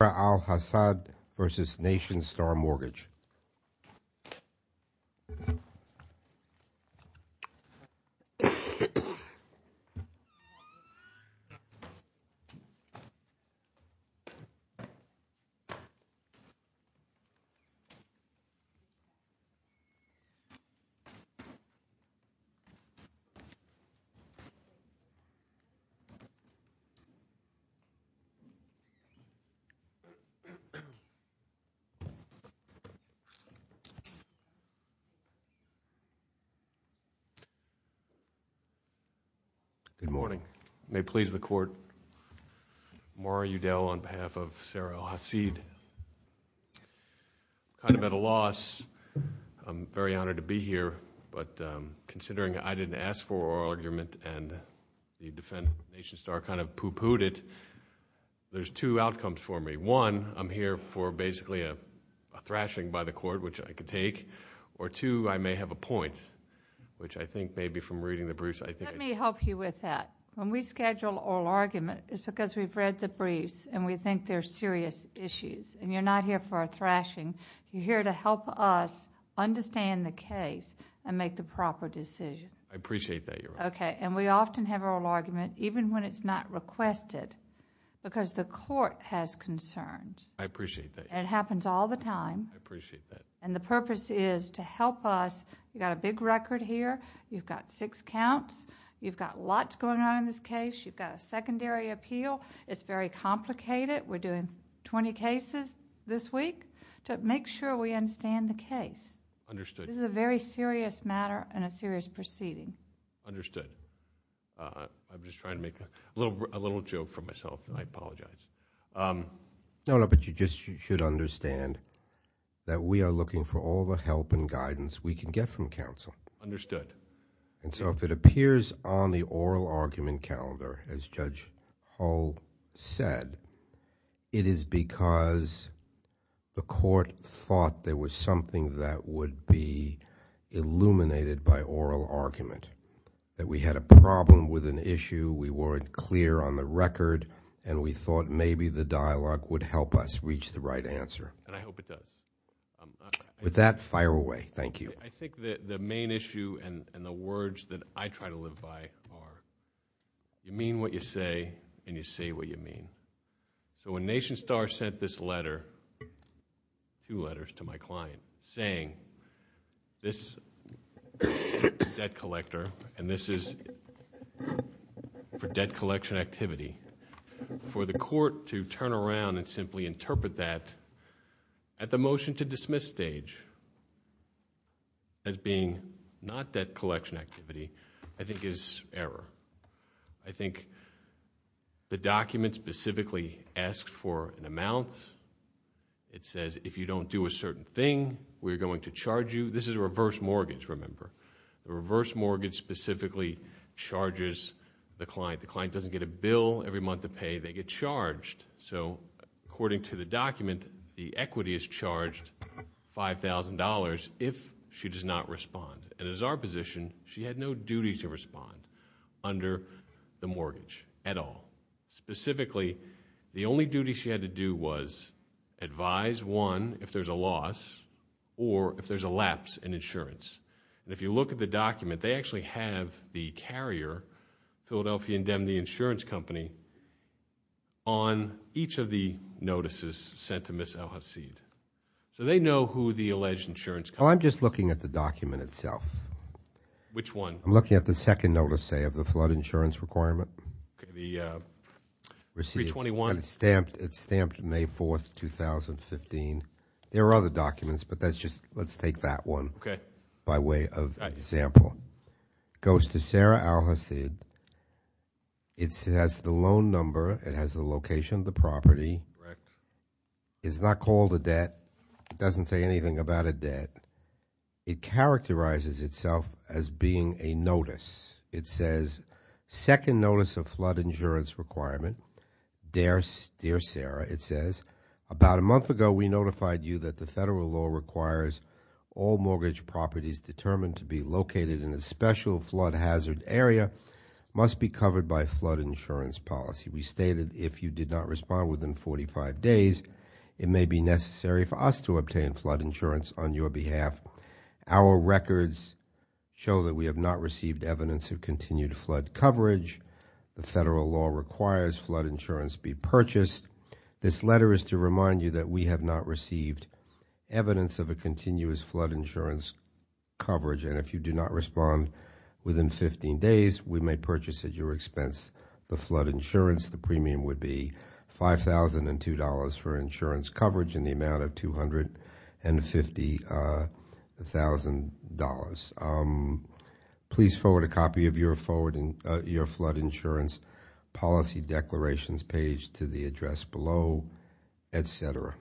Alhassad v. Nationstar Mortgage Good morning. May it please the Court, Maury Udell on behalf of Sarah Alhassid. I'm at a loss. I'm very honored to be here, but considering I didn't ask for our argument and the Nationstar kind of poo-pooed it, there's two outcomes for me. One, I'm here for basically a thrashing by the Court, which I could take, or two, I may have a point, which I think maybe from reading the briefs I think... Let me help you with that. When we schedule oral argument, it's because we've read the briefs and we think they're serious issues, and you're not here for a thrashing. You're here to help us understand the case and make the proper decision. I appreciate that, Your Honor. Okay. We often have oral argument, even when it's not requested, because the Court has concerns. I appreciate that. It happens all the time. I appreciate that. The purpose is to help us. You've got a big record here. You've got six counts. You've got lots going on in this case. You've got a secondary appeal. It's very complicated. We're doing 20 cases this week to make sure we understand the case. Understood. This is a very serious matter and a serious proceeding. Understood. I'm just trying to make a little joke for myself, and I apologize. No, no, but you just should understand that we are looking for all the help and guidance we can get from counsel. Understood. If it appears on the oral argument calendar, as Judge Hull said, it is because the Court thought there was something that would be illuminated by oral argument, that we had a problem with an issue, we weren't clear on the record, and we thought maybe the dialogue would help us reach the right answer. And I hope it does. With that, fire away. Thank you. I think the main issue and the words that I try to live by are, you mean what you say, and you say what you mean. When NationStar sent this letter, two letters to my client, saying this debt collector, and this is for debt collection activity, for the Court to turn around and simply interpret that at the motion to dismiss stage as being not debt collection activity, I think is error. I think the document specifically asks for an amount. It says if you don't do a certain thing, we're going to charge you. This is a reverse mortgage, remember. The reverse mortgage specifically charges the client. The client doesn't get a bill every month to pay, they get charged. So according to the document, the equity is charged $5,000 if she does not respond. And as our position, she had no duty to respond under the mortgage at all. Specifically, the only duty she had to do was advise, one, if there's a loss, or if there's a lapse in insurance. And if you look at the document, they actually have the carrier, Philadelphia Indemnity Insurance Company, on each of the notices sent to Ms. Al-Hasid. So they know who the alleged insurance company is. Well, I'm just looking at the document itself. Which one? I'm looking at the second notice, say, of the flood insurance requirement. Okay, the 321. And it's stamped May 4th, 2015. There are other documents, but that's just, let's take that one. Okay. By way of example. Goes to Sarah Al-Hasid, it has the loan number, it has the location of the property. Correct. It's not called a debt, it doesn't say anything about a debt. It characterizes itself as being a notice. It says, second notice of flood insurance requirement. Dear Sarah, it says, about a month ago we notified you that the federal law requires all mortgage properties determined to be located in a special flood hazard area, must be covered by flood insurance policy. We stated, if you did not respond within 45 days, it may be necessary for us to obtain flood insurance on your behalf. Our records show that we have not received evidence of continued flood coverage. The federal law requires flood insurance be purchased. This letter is to remind you that we have not received evidence of a continuous flood insurance coverage. And if you do not respond within 15 days, we may purchase at your expense the flood insurance. The premium would be $5,002 for insurance coverage in the amount of $250,000. Please forward a copy of your flood insurance policy declarations page to the address below, etc.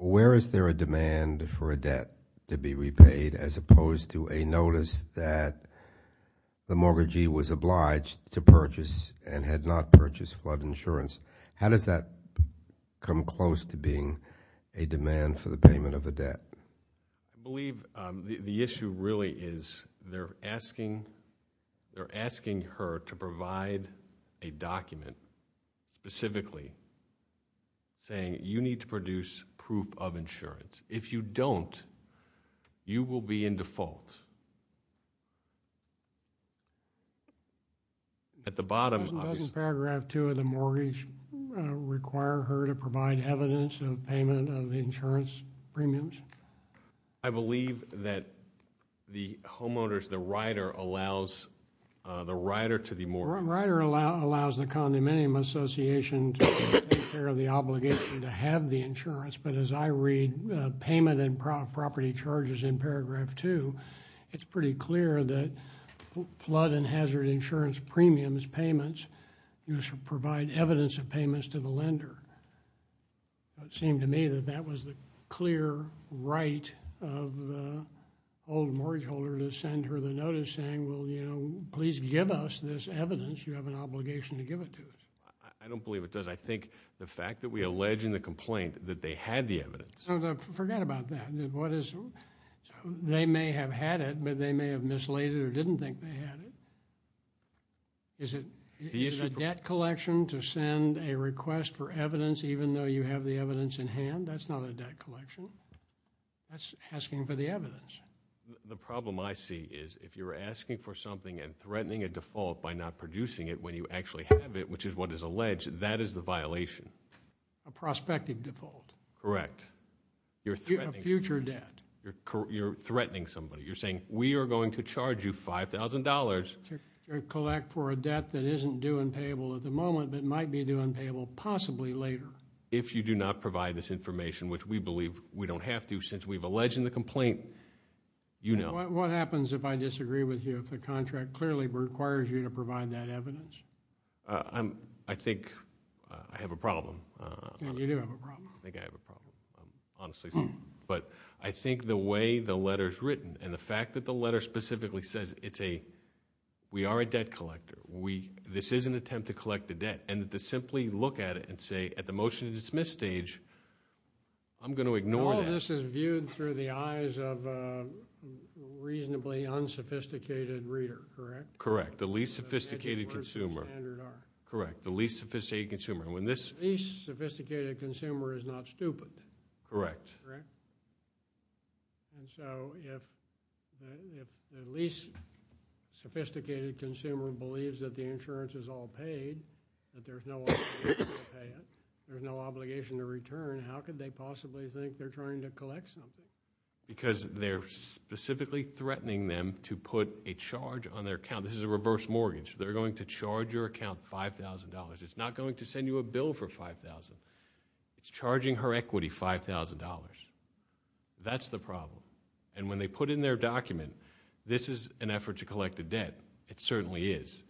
Where is there a demand for a debt to be repaid, as opposed to a notice that the mortgagee was obliged to purchase and had not purchased flood insurance? How does that come close to being a demand for the payment of a debt? I believe the issue really is they're asking her to provide a document, specifically saying you need to produce proof of insurance. If you don't, you will be in default. At the bottom- Doesn't paragraph two of the mortgage require her to provide evidence of payment of the insurance premiums? I believe that the homeowners, the rider, allows the rider to the mortgage. The rider allows the condominium association to take care of the obligation to have the insurance, but as I read payment and property charges in paragraph two, it's pretty clear that flood and hazard insurance premiums payments, you should provide evidence of payments to the lender. It seemed to me that that was the clear right of the old mortgage holder to send her the notice saying, please give us this evidence. You have an obligation to give it to us. I don't believe it does. I think the fact that we allege in the complaint that they had the evidence- Forget about that. They may have had it, but they may have mislaid it or didn't think they had it. Is it a debt collection to send a request for evidence even though you have the evidence in hand? That's not a debt collection. That's asking for the evidence. The problem I see is if you're asking for something and threatening a default by not producing it when you actually have it, which is what is alleged, that is the violation. A prospective default. Correct. You're threatening- A future debt. You're threatening somebody. You're saying, we are going to charge you $5,000. To collect for a debt that isn't due and payable at the moment, but might be due and payable possibly later. If you do not provide this information, which we believe we don't have to since we've alleged in the complaint, you know. What happens if I disagree with you, if the contract clearly requires you to provide that evidence? I think I have a problem. You do have a problem. I think I have a problem, honestly. But I think the way the letter's written and the fact that the letter specifically says, we are a debt collector. This is an attempt to collect the debt. And to simply look at it and say, at the motion to dismiss stage, I'm going to ignore that. All of this is viewed through the eyes of a reasonably unsophisticated reader, correct? Correct. The least sophisticated consumer. The standard are. Correct. The least sophisticated consumer. And when this- The least sophisticated consumer is not stupid. Correct. Correct. And so, if the least sophisticated consumer believes that the insurance is all paid, that there's no obligation to pay it, there's no obligation to return, how could they possibly think they're trying to collect something? Because they're specifically threatening them to put a charge on their account. This is a reverse mortgage. They're going to charge your account $5,000. It's not going to send you a bill for $5,000. It's charging her equity $5,000. That's the problem. And when they put in their document, this is an effort to collect a debt. It certainly is.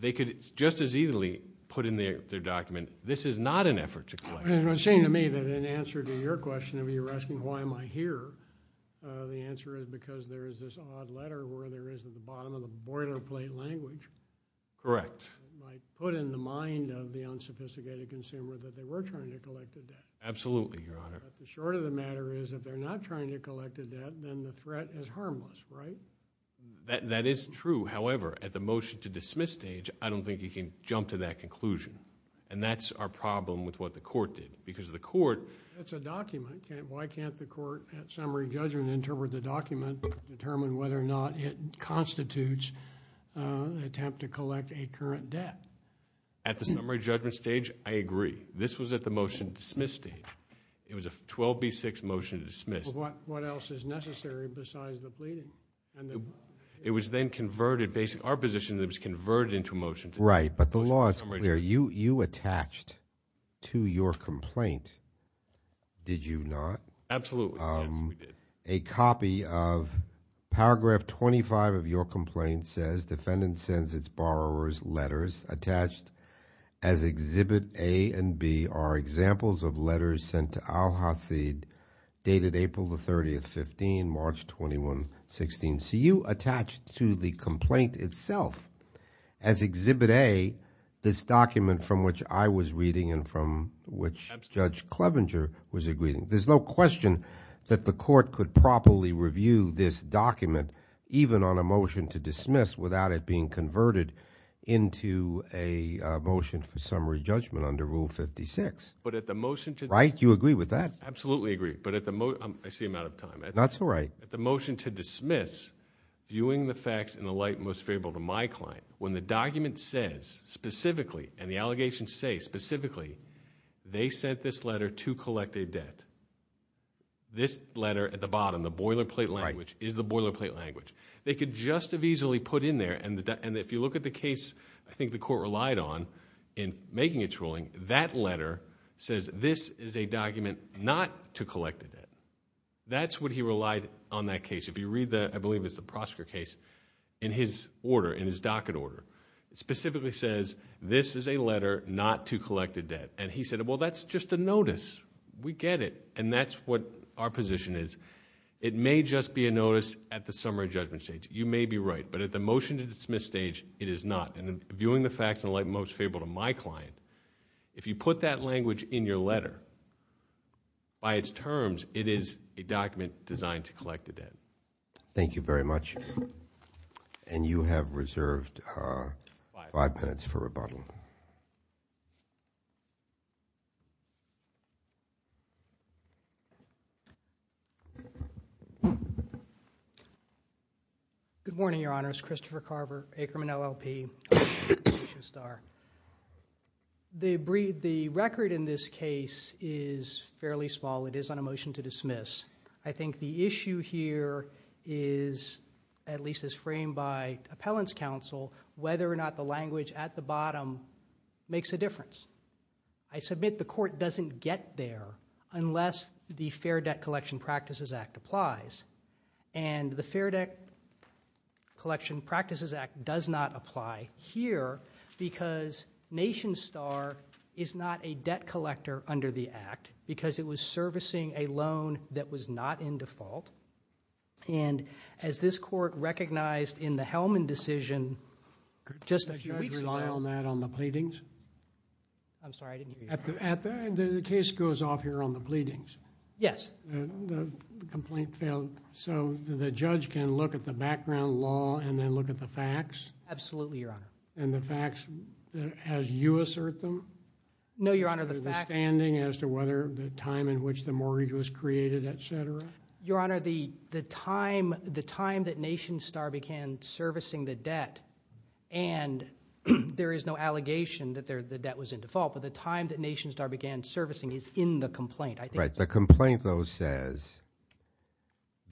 They could just as easily put in their document, this is not an effort to collect. It would seem to me that in answer to your question of you asking why am I here, the answer is because there is this odd letter where there is at the bottom of the boilerplate language. Correct. Put in the mind of the unsophisticated consumer that they were trying to collect a debt. Absolutely, your honor. Short of the matter is, if they're not trying to collect a debt, then the threat is harmless, right? That is true. However, at the motion to dismiss stage, I don't think you can jump to that conclusion. And that's our problem with what the court did. Because the court- It's a document. Why can't the court, at summary judgment, interpret the document to determine whether or not it constitutes an attempt to collect a current debt? At the summary judgment stage, I agree. This was at the motion to dismiss stage. It was a 12B6 motion to dismiss. What else is necessary besides the pleading? It was then converted, based on our position, it was converted into a motion to dismiss. Right, but the law is clear. You attached to your complaint, did you not? Absolutely, yes, we did. A copy of paragraph 25 of your complaint says, defendant sends its borrower's letters. Attached as exhibit A and B are examples of letters sent to Al-Hasid, dated April the 30th, 15, March 21, 16. So you attached to the complaint itself, as exhibit A, this document from which I was reading and from which Judge Clevenger was agreeing. There's no question that the court could properly review this document, even on a motion to dismiss, without it being converted into a motion for summary judgment under Rule 56, right? You agree with that? Absolutely agree, but I seem out of time. That's all right. At the motion to dismiss, viewing the facts in the light most favorable to my client, when the document says specifically, and the allegations say specifically, they sent this letter to collect a debt, this letter at the bottom, the boilerplate language, is the boilerplate language. They could just have easily put in there, and if you look at the case, I think the court relied on in making its ruling, that letter says this is a document not to collect a debt. That's what he relied on that case. If you read the, I believe it's the Prosker case, in his order, in his docket order. It specifically says, this is a letter not to collect a debt, and he said, well, that's just a notice. We get it, and that's what our position is. It may just be a notice at the summary judgment stage. You may be right, but at the motion to dismiss stage, it is not, and viewing the facts in the light most favorable to my client. If you put that language in your letter, by its terms, it is a document designed to collect a debt. Thank you very much, and you have reserved five minutes for rebuttal. Good morning, your honors. Christopher Carver, Aikerman LLP, Alicia Starr. The record in this case is fairly small. It is on a motion to dismiss. I think the issue here is, at least as framed by appellant's counsel, whether or not the language at the bottom makes a difference. I submit the court doesn't get there unless the Fair Debt Collection Practices Act applies. And the Fair Debt Collection Practices Act does not apply here because Nation Star is not a debt collector under the act, because it was servicing a loan that was not in default, and as this court recognized in the Hellman decision just a few weeks ago- Did you rely on that on the pleadings? I'm sorry, I didn't hear you. At the end, the case goes off here on the pleadings. Yes. The complaint failed, so the judge can look at the background law and then look at the facts? Absolutely, your honor. And the facts, as you assert them? No, your honor, the facts- As to whether the time in which the mortgage was created, et cetera? Your honor, the time that Nation Star began servicing the debt, and there is no allegation that the debt was in default, but the time that Nation Star began servicing is in the complaint, I think- Right, the complaint, though, says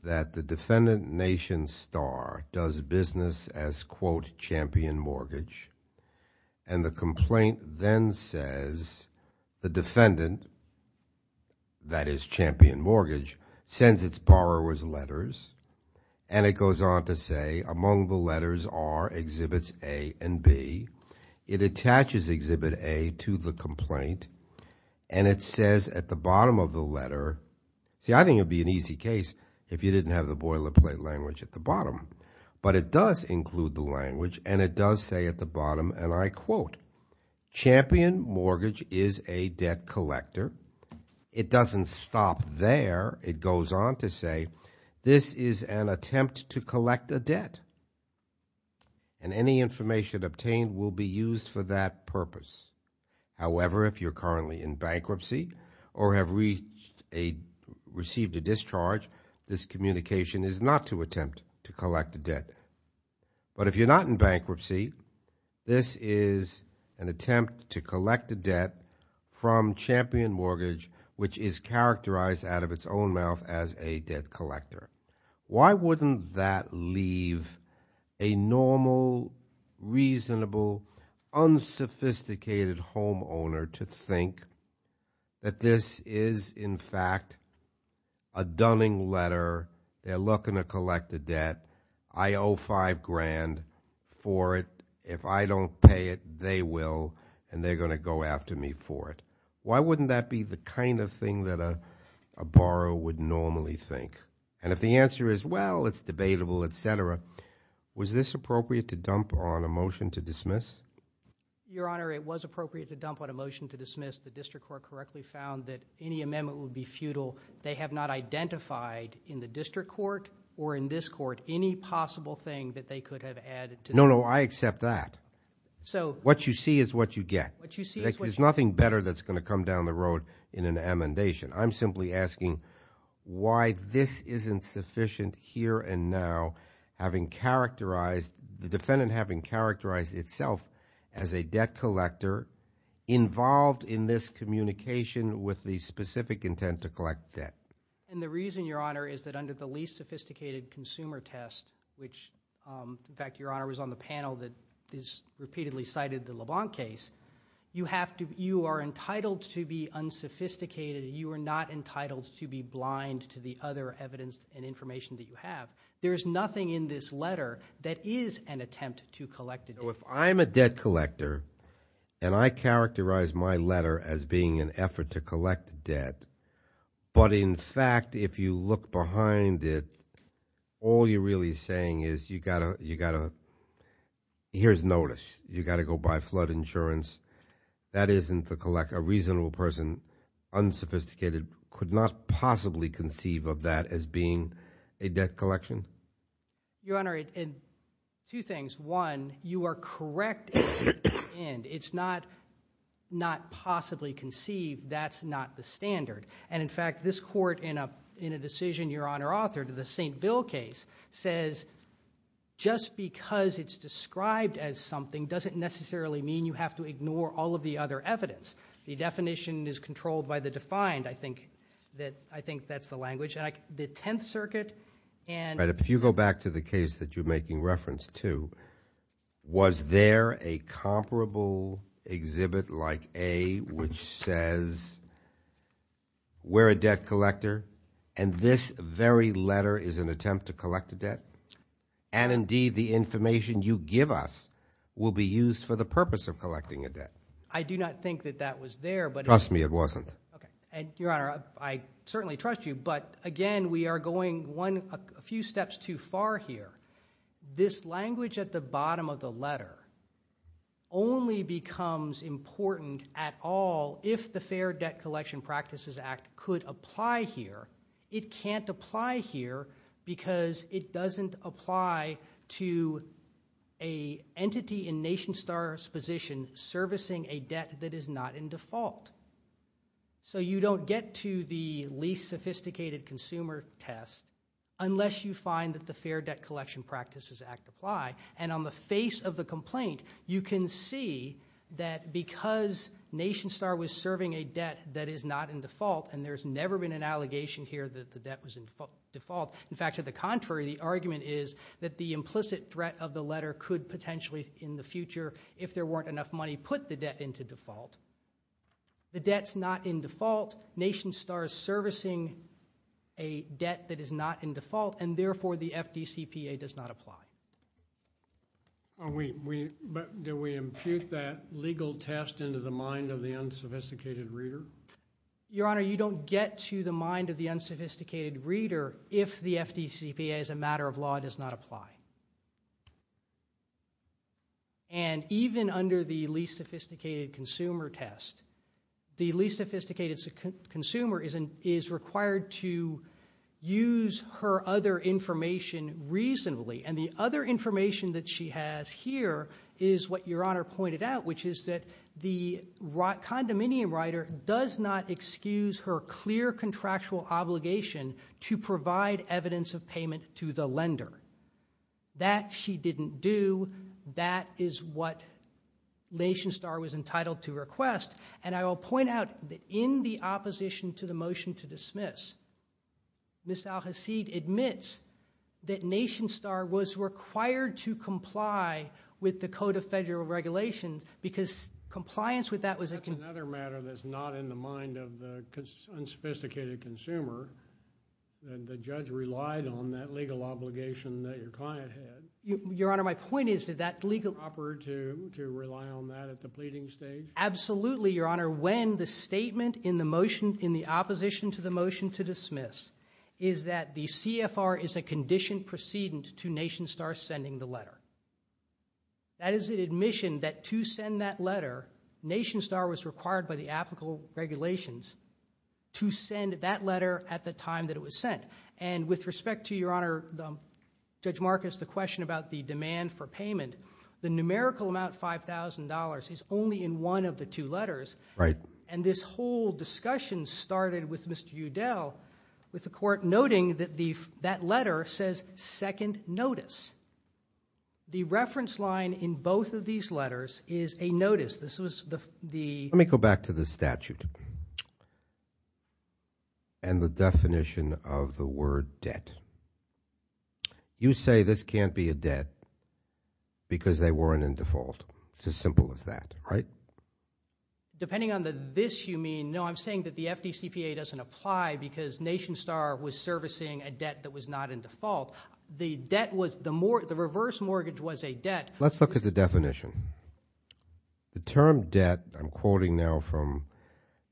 that the defendant, Nation Star, does business as, quote, champion mortgage. And the complaint then says, the defendant, that is, champion mortgage, sends its borrower's letters, and it goes on to say, among the letters are exhibits A and B. It attaches exhibit A to the complaint, and it says at the bottom of the letter- See, I think it would be an easy case if you didn't have the boilerplate language at the bottom, but it does include the language, and it does say at the bottom, and I quote, champion mortgage is a debt collector. It doesn't stop there. It goes on to say, this is an attempt to collect a debt, and any information obtained will be used for that purpose. However, if you're currently in bankruptcy or have received a discharge, this communication is not to attempt to collect a debt. But if you're not in bankruptcy, this is an attempt to collect a debt from champion mortgage, which is characterized out of its own mouth as a debt collector. Why wouldn't that leave a normal, reasonable, unsophisticated homeowner to think that this is, in fact, a dunning letter? They're looking to collect a debt. I owe five grand for it. If I don't pay it, they will, and they're going to go after me for it. Why wouldn't that be the kind of thing that a borrower would normally think? And if the answer is, well, it's debatable, etc., was this appropriate to dump on a motion to dismiss? Your Honor, it was appropriate to dump on a motion to dismiss. The district court correctly found that any amendment would be futile. They have not identified in the district court or in this court any possible thing that they could have added to- No, no, I accept that. What you see is what you get. There's nothing better that's going to come down the road in an amendation. I'm simply asking why this isn't sufficient here and now, having characterized, the defendant having characterized itself as a debt collector, involved in this communication with the specific intent to collect debt. And the reason, Your Honor, is that under the least sophisticated consumer test, which, in fact, Your Honor was on the panel that has repeatedly cited the LeBlanc case, you are entitled to be unsophisticated. You are not entitled to be blind to the other evidence and information that you have. There is nothing in this letter that is an attempt to collect a debt. If I'm a debt collector and I characterize my letter as being an effort to collect debt, but in fact, if you look behind it, all you're really saying is, here's notice. You got to go buy flood insurance. That isn't the collect. A reasonable person, unsophisticated, could not possibly conceive of that as being a debt collection? Your Honor, two things. One, you are correct in the end. It's not not possibly conceived. That's not the standard. And in fact, this court, in a decision, Your Honor, author to the St. Bill case, says just because it's described as something doesn't necessarily mean you have to ignore all of the other evidence. The definition is controlled by the defined. I think that's the language. And the Tenth Circuit and... Go back to the case that you're making reference to. Was there a comparable exhibit like A, which says, we're a debt collector, and this very letter is an attempt to collect a debt? And indeed, the information you give us will be used for the purpose of collecting a debt. I do not think that that was there, but... Trust me, it wasn't. Okay. And Your Honor, I certainly trust you. But again, we are going a few steps too far here. This language at the bottom of the letter only becomes important at all if the Fair Debt Collection Practices Act could apply here. It can't apply here because it doesn't apply to an entity in NationStar's position servicing a debt that is not in default. So you don't get to the least sophisticated consumer test unless you find that the Fair Debt Collection Practices Act apply. And on the face of the complaint, you can see that because NationStar was serving a debt that is not in default, and there's never been an allegation here that the debt was in default. In fact, to the contrary, the argument is that the implicit threat of the letter could potentially, in the future, if there weren't enough money, put the debt into default. The debt's not in default. NationStar is servicing a debt that is not in default, and therefore, the FDCPA does not apply. Are we... Do we impute that legal test into the mind of the unsophisticated reader? Your Honor, you don't get to the mind of the unsophisticated reader if the FDCPA, as a matter of law, does not apply. And even under the least sophisticated consumer test, the least sophisticated consumer is required to use her other information reasonably. And the other information that she has here is what Your Honor pointed out, which is that the condominium writer does not excuse her clear contractual obligation to provide evidence of payment to the lender. That she didn't do. That is what NationStar was entitled to request. And I will point out that in the opposition to the motion to dismiss, Ms. Al-Hasid admits that NationStar was required to comply with the Code of Federal Regulation because compliance with that was a... That's another matter that's not in the mind of the unsophisticated consumer. And the judge relied on that legal obligation that your client had. Your Honor, my point is that that legal... Proper to rely on that at the pleading stage? Absolutely, Your Honor. When the statement in the motion, in the opposition to the motion to dismiss, is that the CFR is a conditioned precedent to NationStar sending the letter. That is an admission that to send that letter, NationStar was required by the applicable regulations to send that letter at the time that it was sent. And with respect to, Your Honor, Judge Marcus, the question about the demand for payment, the numerical amount, $5,000, is only in one of the two letters. Right. And this whole discussion started with Mr. Udell with the court noting that that letter says, second notice. The reference line in both of these letters is a notice. This was the... Let me go back to the statute and the definition of the word debt. You say this can't be a debt because they weren't in default. It's as simple as that, right? Depending on the this you mean, no, I'm saying that the FDCPA doesn't apply because NationStar was servicing a debt that was not in default. The debt was... Let's look at the definition. The term debt, I'm quoting now from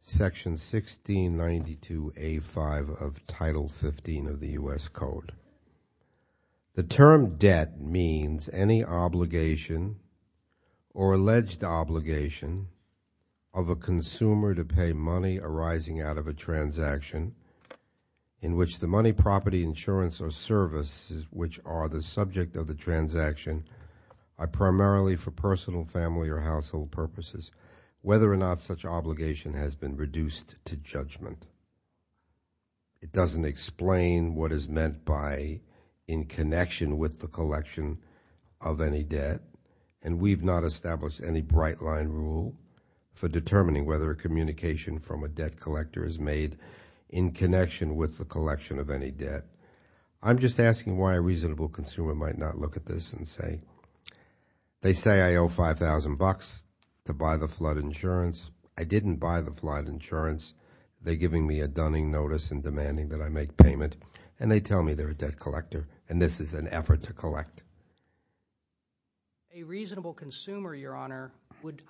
Section 1692A5 of Title 15 of the U.S. Code. The term debt means any obligation or alleged obligation of a consumer to pay money arising out of a transaction in which the money, property, insurance, or services which are the subject of the transaction are primarily for personal, family, or household purposes, whether or not such obligation has been reduced to judgment. It doesn't explain what is meant by in connection with the collection of any debt. And we've not established any bright line rule for determining whether a communication from a debt collector is made in connection with the collection of any debt. I'm just asking why a reasonable consumer might not look at this and say, they say I owe 5,000 bucks to buy the flood insurance. I didn't buy the flood insurance. They're giving me a dunning notice and demanding that I make payment. And they tell me they're a debt collector, and this is an effort to collect. A reasonable consumer, Your Honor, would,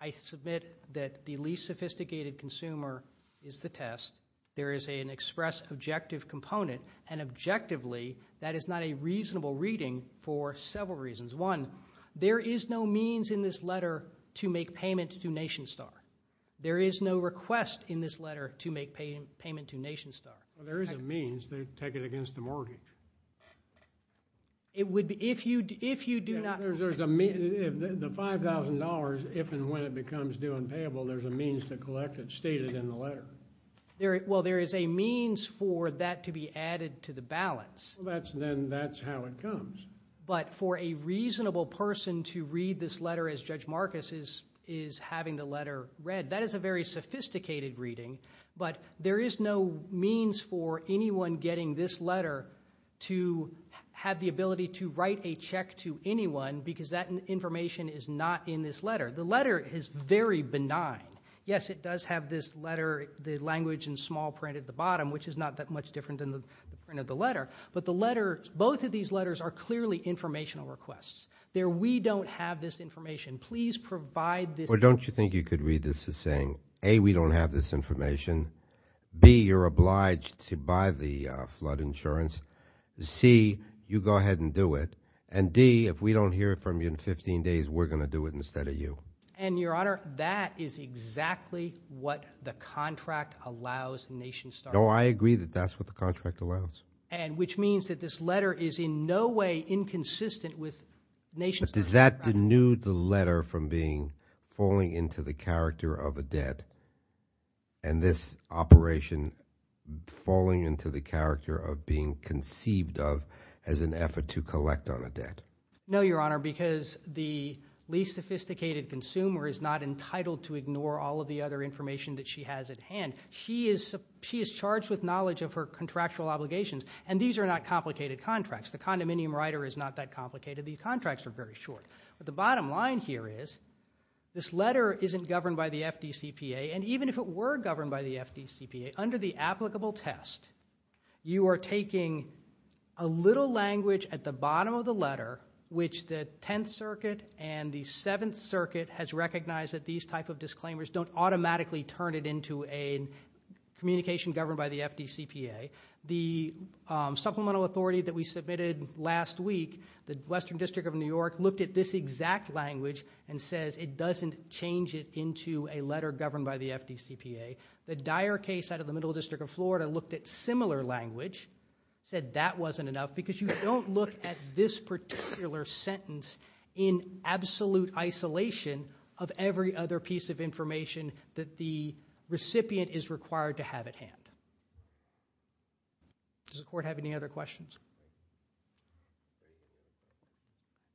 I submit that the least sophisticated consumer is the test. There is an express objective component, and objectively, that is not a reasonable reading for several reasons. One, there is no means in this letter to make payment to NationStar. There is no request in this letter to make payment to NationStar. There is a means. They take it against the mortgage. It would be, if you do not. There's a, the $5,000, if and when it becomes due and payable, there's a means to collect it stated in the letter. Well, there is a means for that to be added to the balance. Well, then that's how it comes. But for a reasonable person to read this letter as Judge Marcus is having the letter read, that is a very sophisticated reading. But there is no means for anyone getting this letter to have the ability to write a check to anyone because that information is not in this letter. The letter is very benign. Yes, it does have this letter, the language in small print at the bottom, which is not that much different than the print of the letter. But the letter, both of these letters are clearly informational requests. They're, we don't have this information. Please provide this. Well, don't you think you could read this as saying, A, we don't have this information. B, you're obliged to buy the flood insurance. C, you go ahead and do it. And D, if we don't hear from you in 15 days, we're going to do it instead of you. And, Your Honor, that is exactly what the contract allows NationStar. No, I agree that that's what the contract allows. And which means that this letter is in no way inconsistent with NationStar's contract. But does that denude the letter from being, falling into the character of a debt? And this operation falling into the character of being conceived of as an effort to collect on a debt? No, Your Honor, because the least sophisticated consumer is not entitled to ignore all of the other information that she has at hand. She is, she is charged with knowledge of her contractual obligations. And these are not complicated contracts. The condominium writer is not that complicated. These contracts are very short. But the bottom line here is, this letter isn't governed by the FDCPA. And even if it were governed by the FDCPA, under the applicable test, you are taking a little language at the bottom of the letter, which the 10th Circuit and the 7th Circuit has recognized that these type of disclaimers don't automatically turn it into a communication governed by the FDCPA. The supplemental authority that we submitted last week, the Western District of New York looked at this exact language and says it doesn't change it into a letter governed by the FDCPA. The dire case out of the Middle District of Florida looked at similar language, said that wasn't enough because you don't look at this particular sentence in absolute isolation of every other piece of information that the recipient is required to have at hand. Does the Court have any other questions?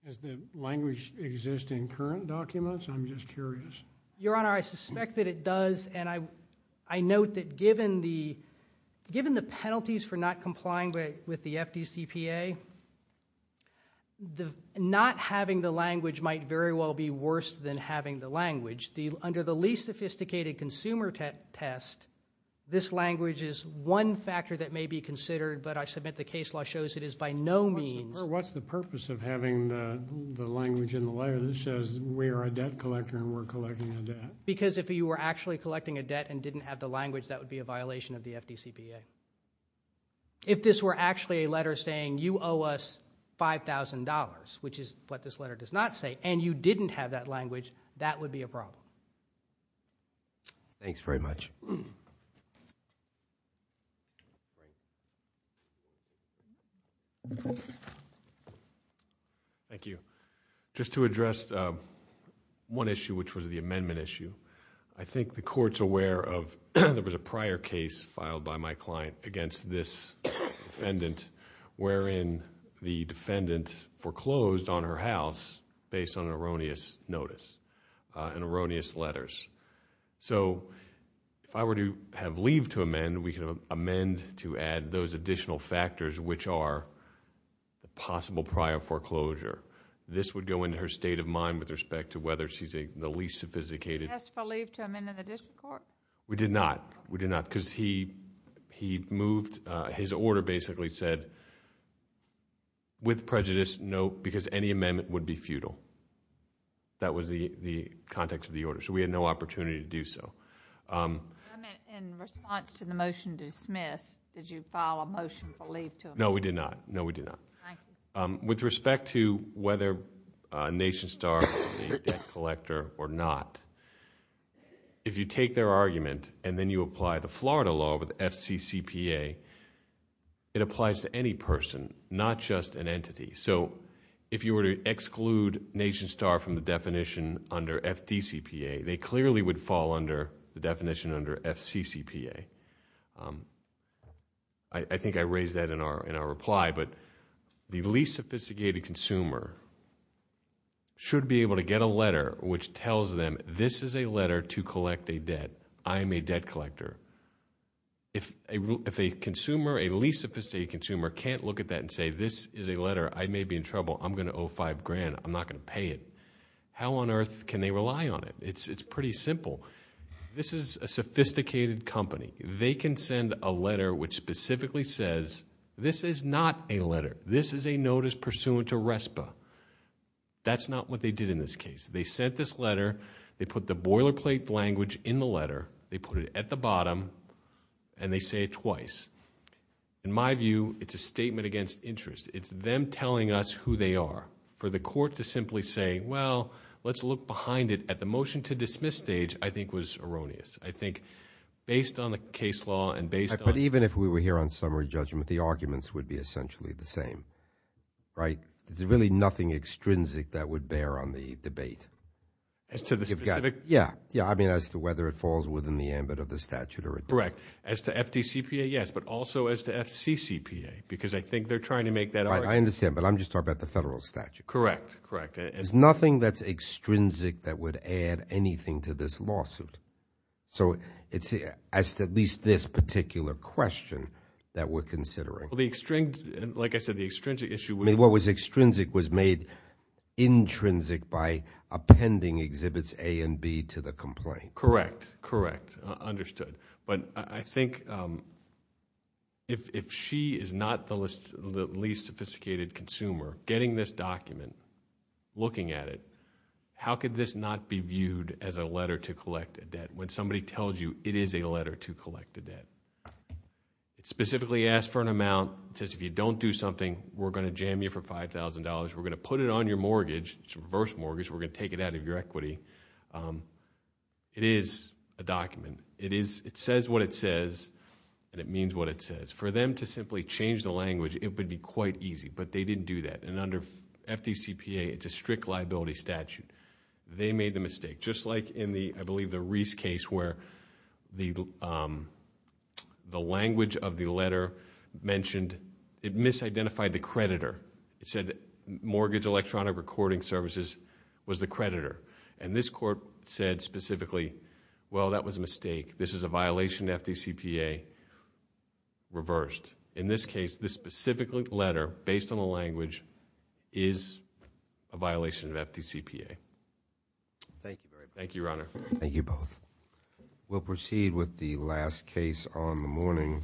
Does the language exist in current documents? I'm just curious. Your Honor, I suspect that it does. And I note that given the penalties for not complying with the FDCPA, not having the language might very well be worse than having the language. Under the least sophisticated consumer test, this language is one factor that may be considered, but I submit the case law shows it is by no means. What's the purpose of having the language in the letter that says we are a debt collector and we're collecting a debt? Because if you were actually collecting a debt and didn't have the language, that would be a violation of the FDCPA. If this were actually a letter saying you owe us $5,000, which is what this letter does not say, and you didn't have that language, that would be a problem. Thanks very much. Thank you. Just to address one issue, which was the amendment issue, I think the Court's aware of there was a prior case filed by my client against this defendant wherein the defendant foreclosed on her house based on an erroneous notice, an erroneous letter. If I were to have leave to amend, we could amend to add those additional factors which are a possible prior foreclosure. This would go into her state of mind with respect to whether she's the least sophisticated. You asked for leave to amend in the district court? We did not. We did not. Because he moved, his order basically said, with prejudice, no, because any amendment would be futile. That was the context of the order, so we had no opportunity to do so. In response to the motion dismissed, did you file a motion for leave to amend? No, we did not. No, we did not. With respect to whether NationStar is the debt collector or not, if you take their argument and then you apply the Florida law with FCCPA, it applies to any person, not just an entity. If you were to exclude NationStar from the definition under FDCPA, they clearly would fall under the definition under FCCPA. I think I raised that in our reply, but the least sophisticated consumer should be able to get a letter which tells them, this is a letter to collect a debt. I am a debt collector. If a consumer, a least sophisticated consumer, can't look at that and say, this is a letter, I may be in trouble. I'm going to owe five grand. I'm not going to pay it. How on earth can they rely on it? It's pretty simple. This is a sophisticated company. They can send a letter which specifically says, this is not a letter. This is a notice pursuant to RESPA. That's not what they did in this case. They sent this letter. They put the boilerplate language in the letter. They put it at the bottom and they say it twice. In my view, it's a statement against interest. It's them telling us who they are. For the court to simply say, well, let's look behind it at the motion to dismiss stage, I think was erroneous. I think based on the case law and based on- But even if we were here on summary judgment, the arguments would be essentially the same, right? There's really nothing extrinsic that would bear on the debate. As to the specific- Yeah, yeah. I mean, as to whether it falls within the ambit of the statute or- Correct. As to FDCPA, yes, but also as to FCCPA, because I think they're trying to make that argument- I understand, but I'm just talking about the federal statute. Correct, correct. There's nothing that's extrinsic that would add anything to this lawsuit. It's at least this particular question that we're considering. Well, the extrinsic- Like I said, the extrinsic issue- What was extrinsic was made intrinsic by appending exhibits A and B to the complaint. Correct, correct. Understood. But I think if she is not the least sophisticated consumer getting this document, looking at it, how could this not be viewed as a letter to collect a debt? When somebody tells you it is a letter to collect a debt. It specifically asks for an amount. It says, if you don't do something, we're going to jam you for $5,000. We're going to put it on your mortgage. It's a reverse mortgage. We're going to take it out of your equity. It is a document. It says what it says, and it means what it says. For them to simply change the language, it would be quite easy, but they didn't do that. Under FDCPA, it's a strict liability statute. They made the mistake. Just like in the, I believe, the Reese case where the language of the letter mentioned, it misidentified the creditor. It said mortgage electronic recording services was the creditor. This court said specifically, well, that was a mistake. This is a violation of FDCPA, reversed. In this case, this specific letter, based on the language, is a violation of FDCPA. Thank you, Your Honor. Thank you both. We'll proceed with the last case on the morning.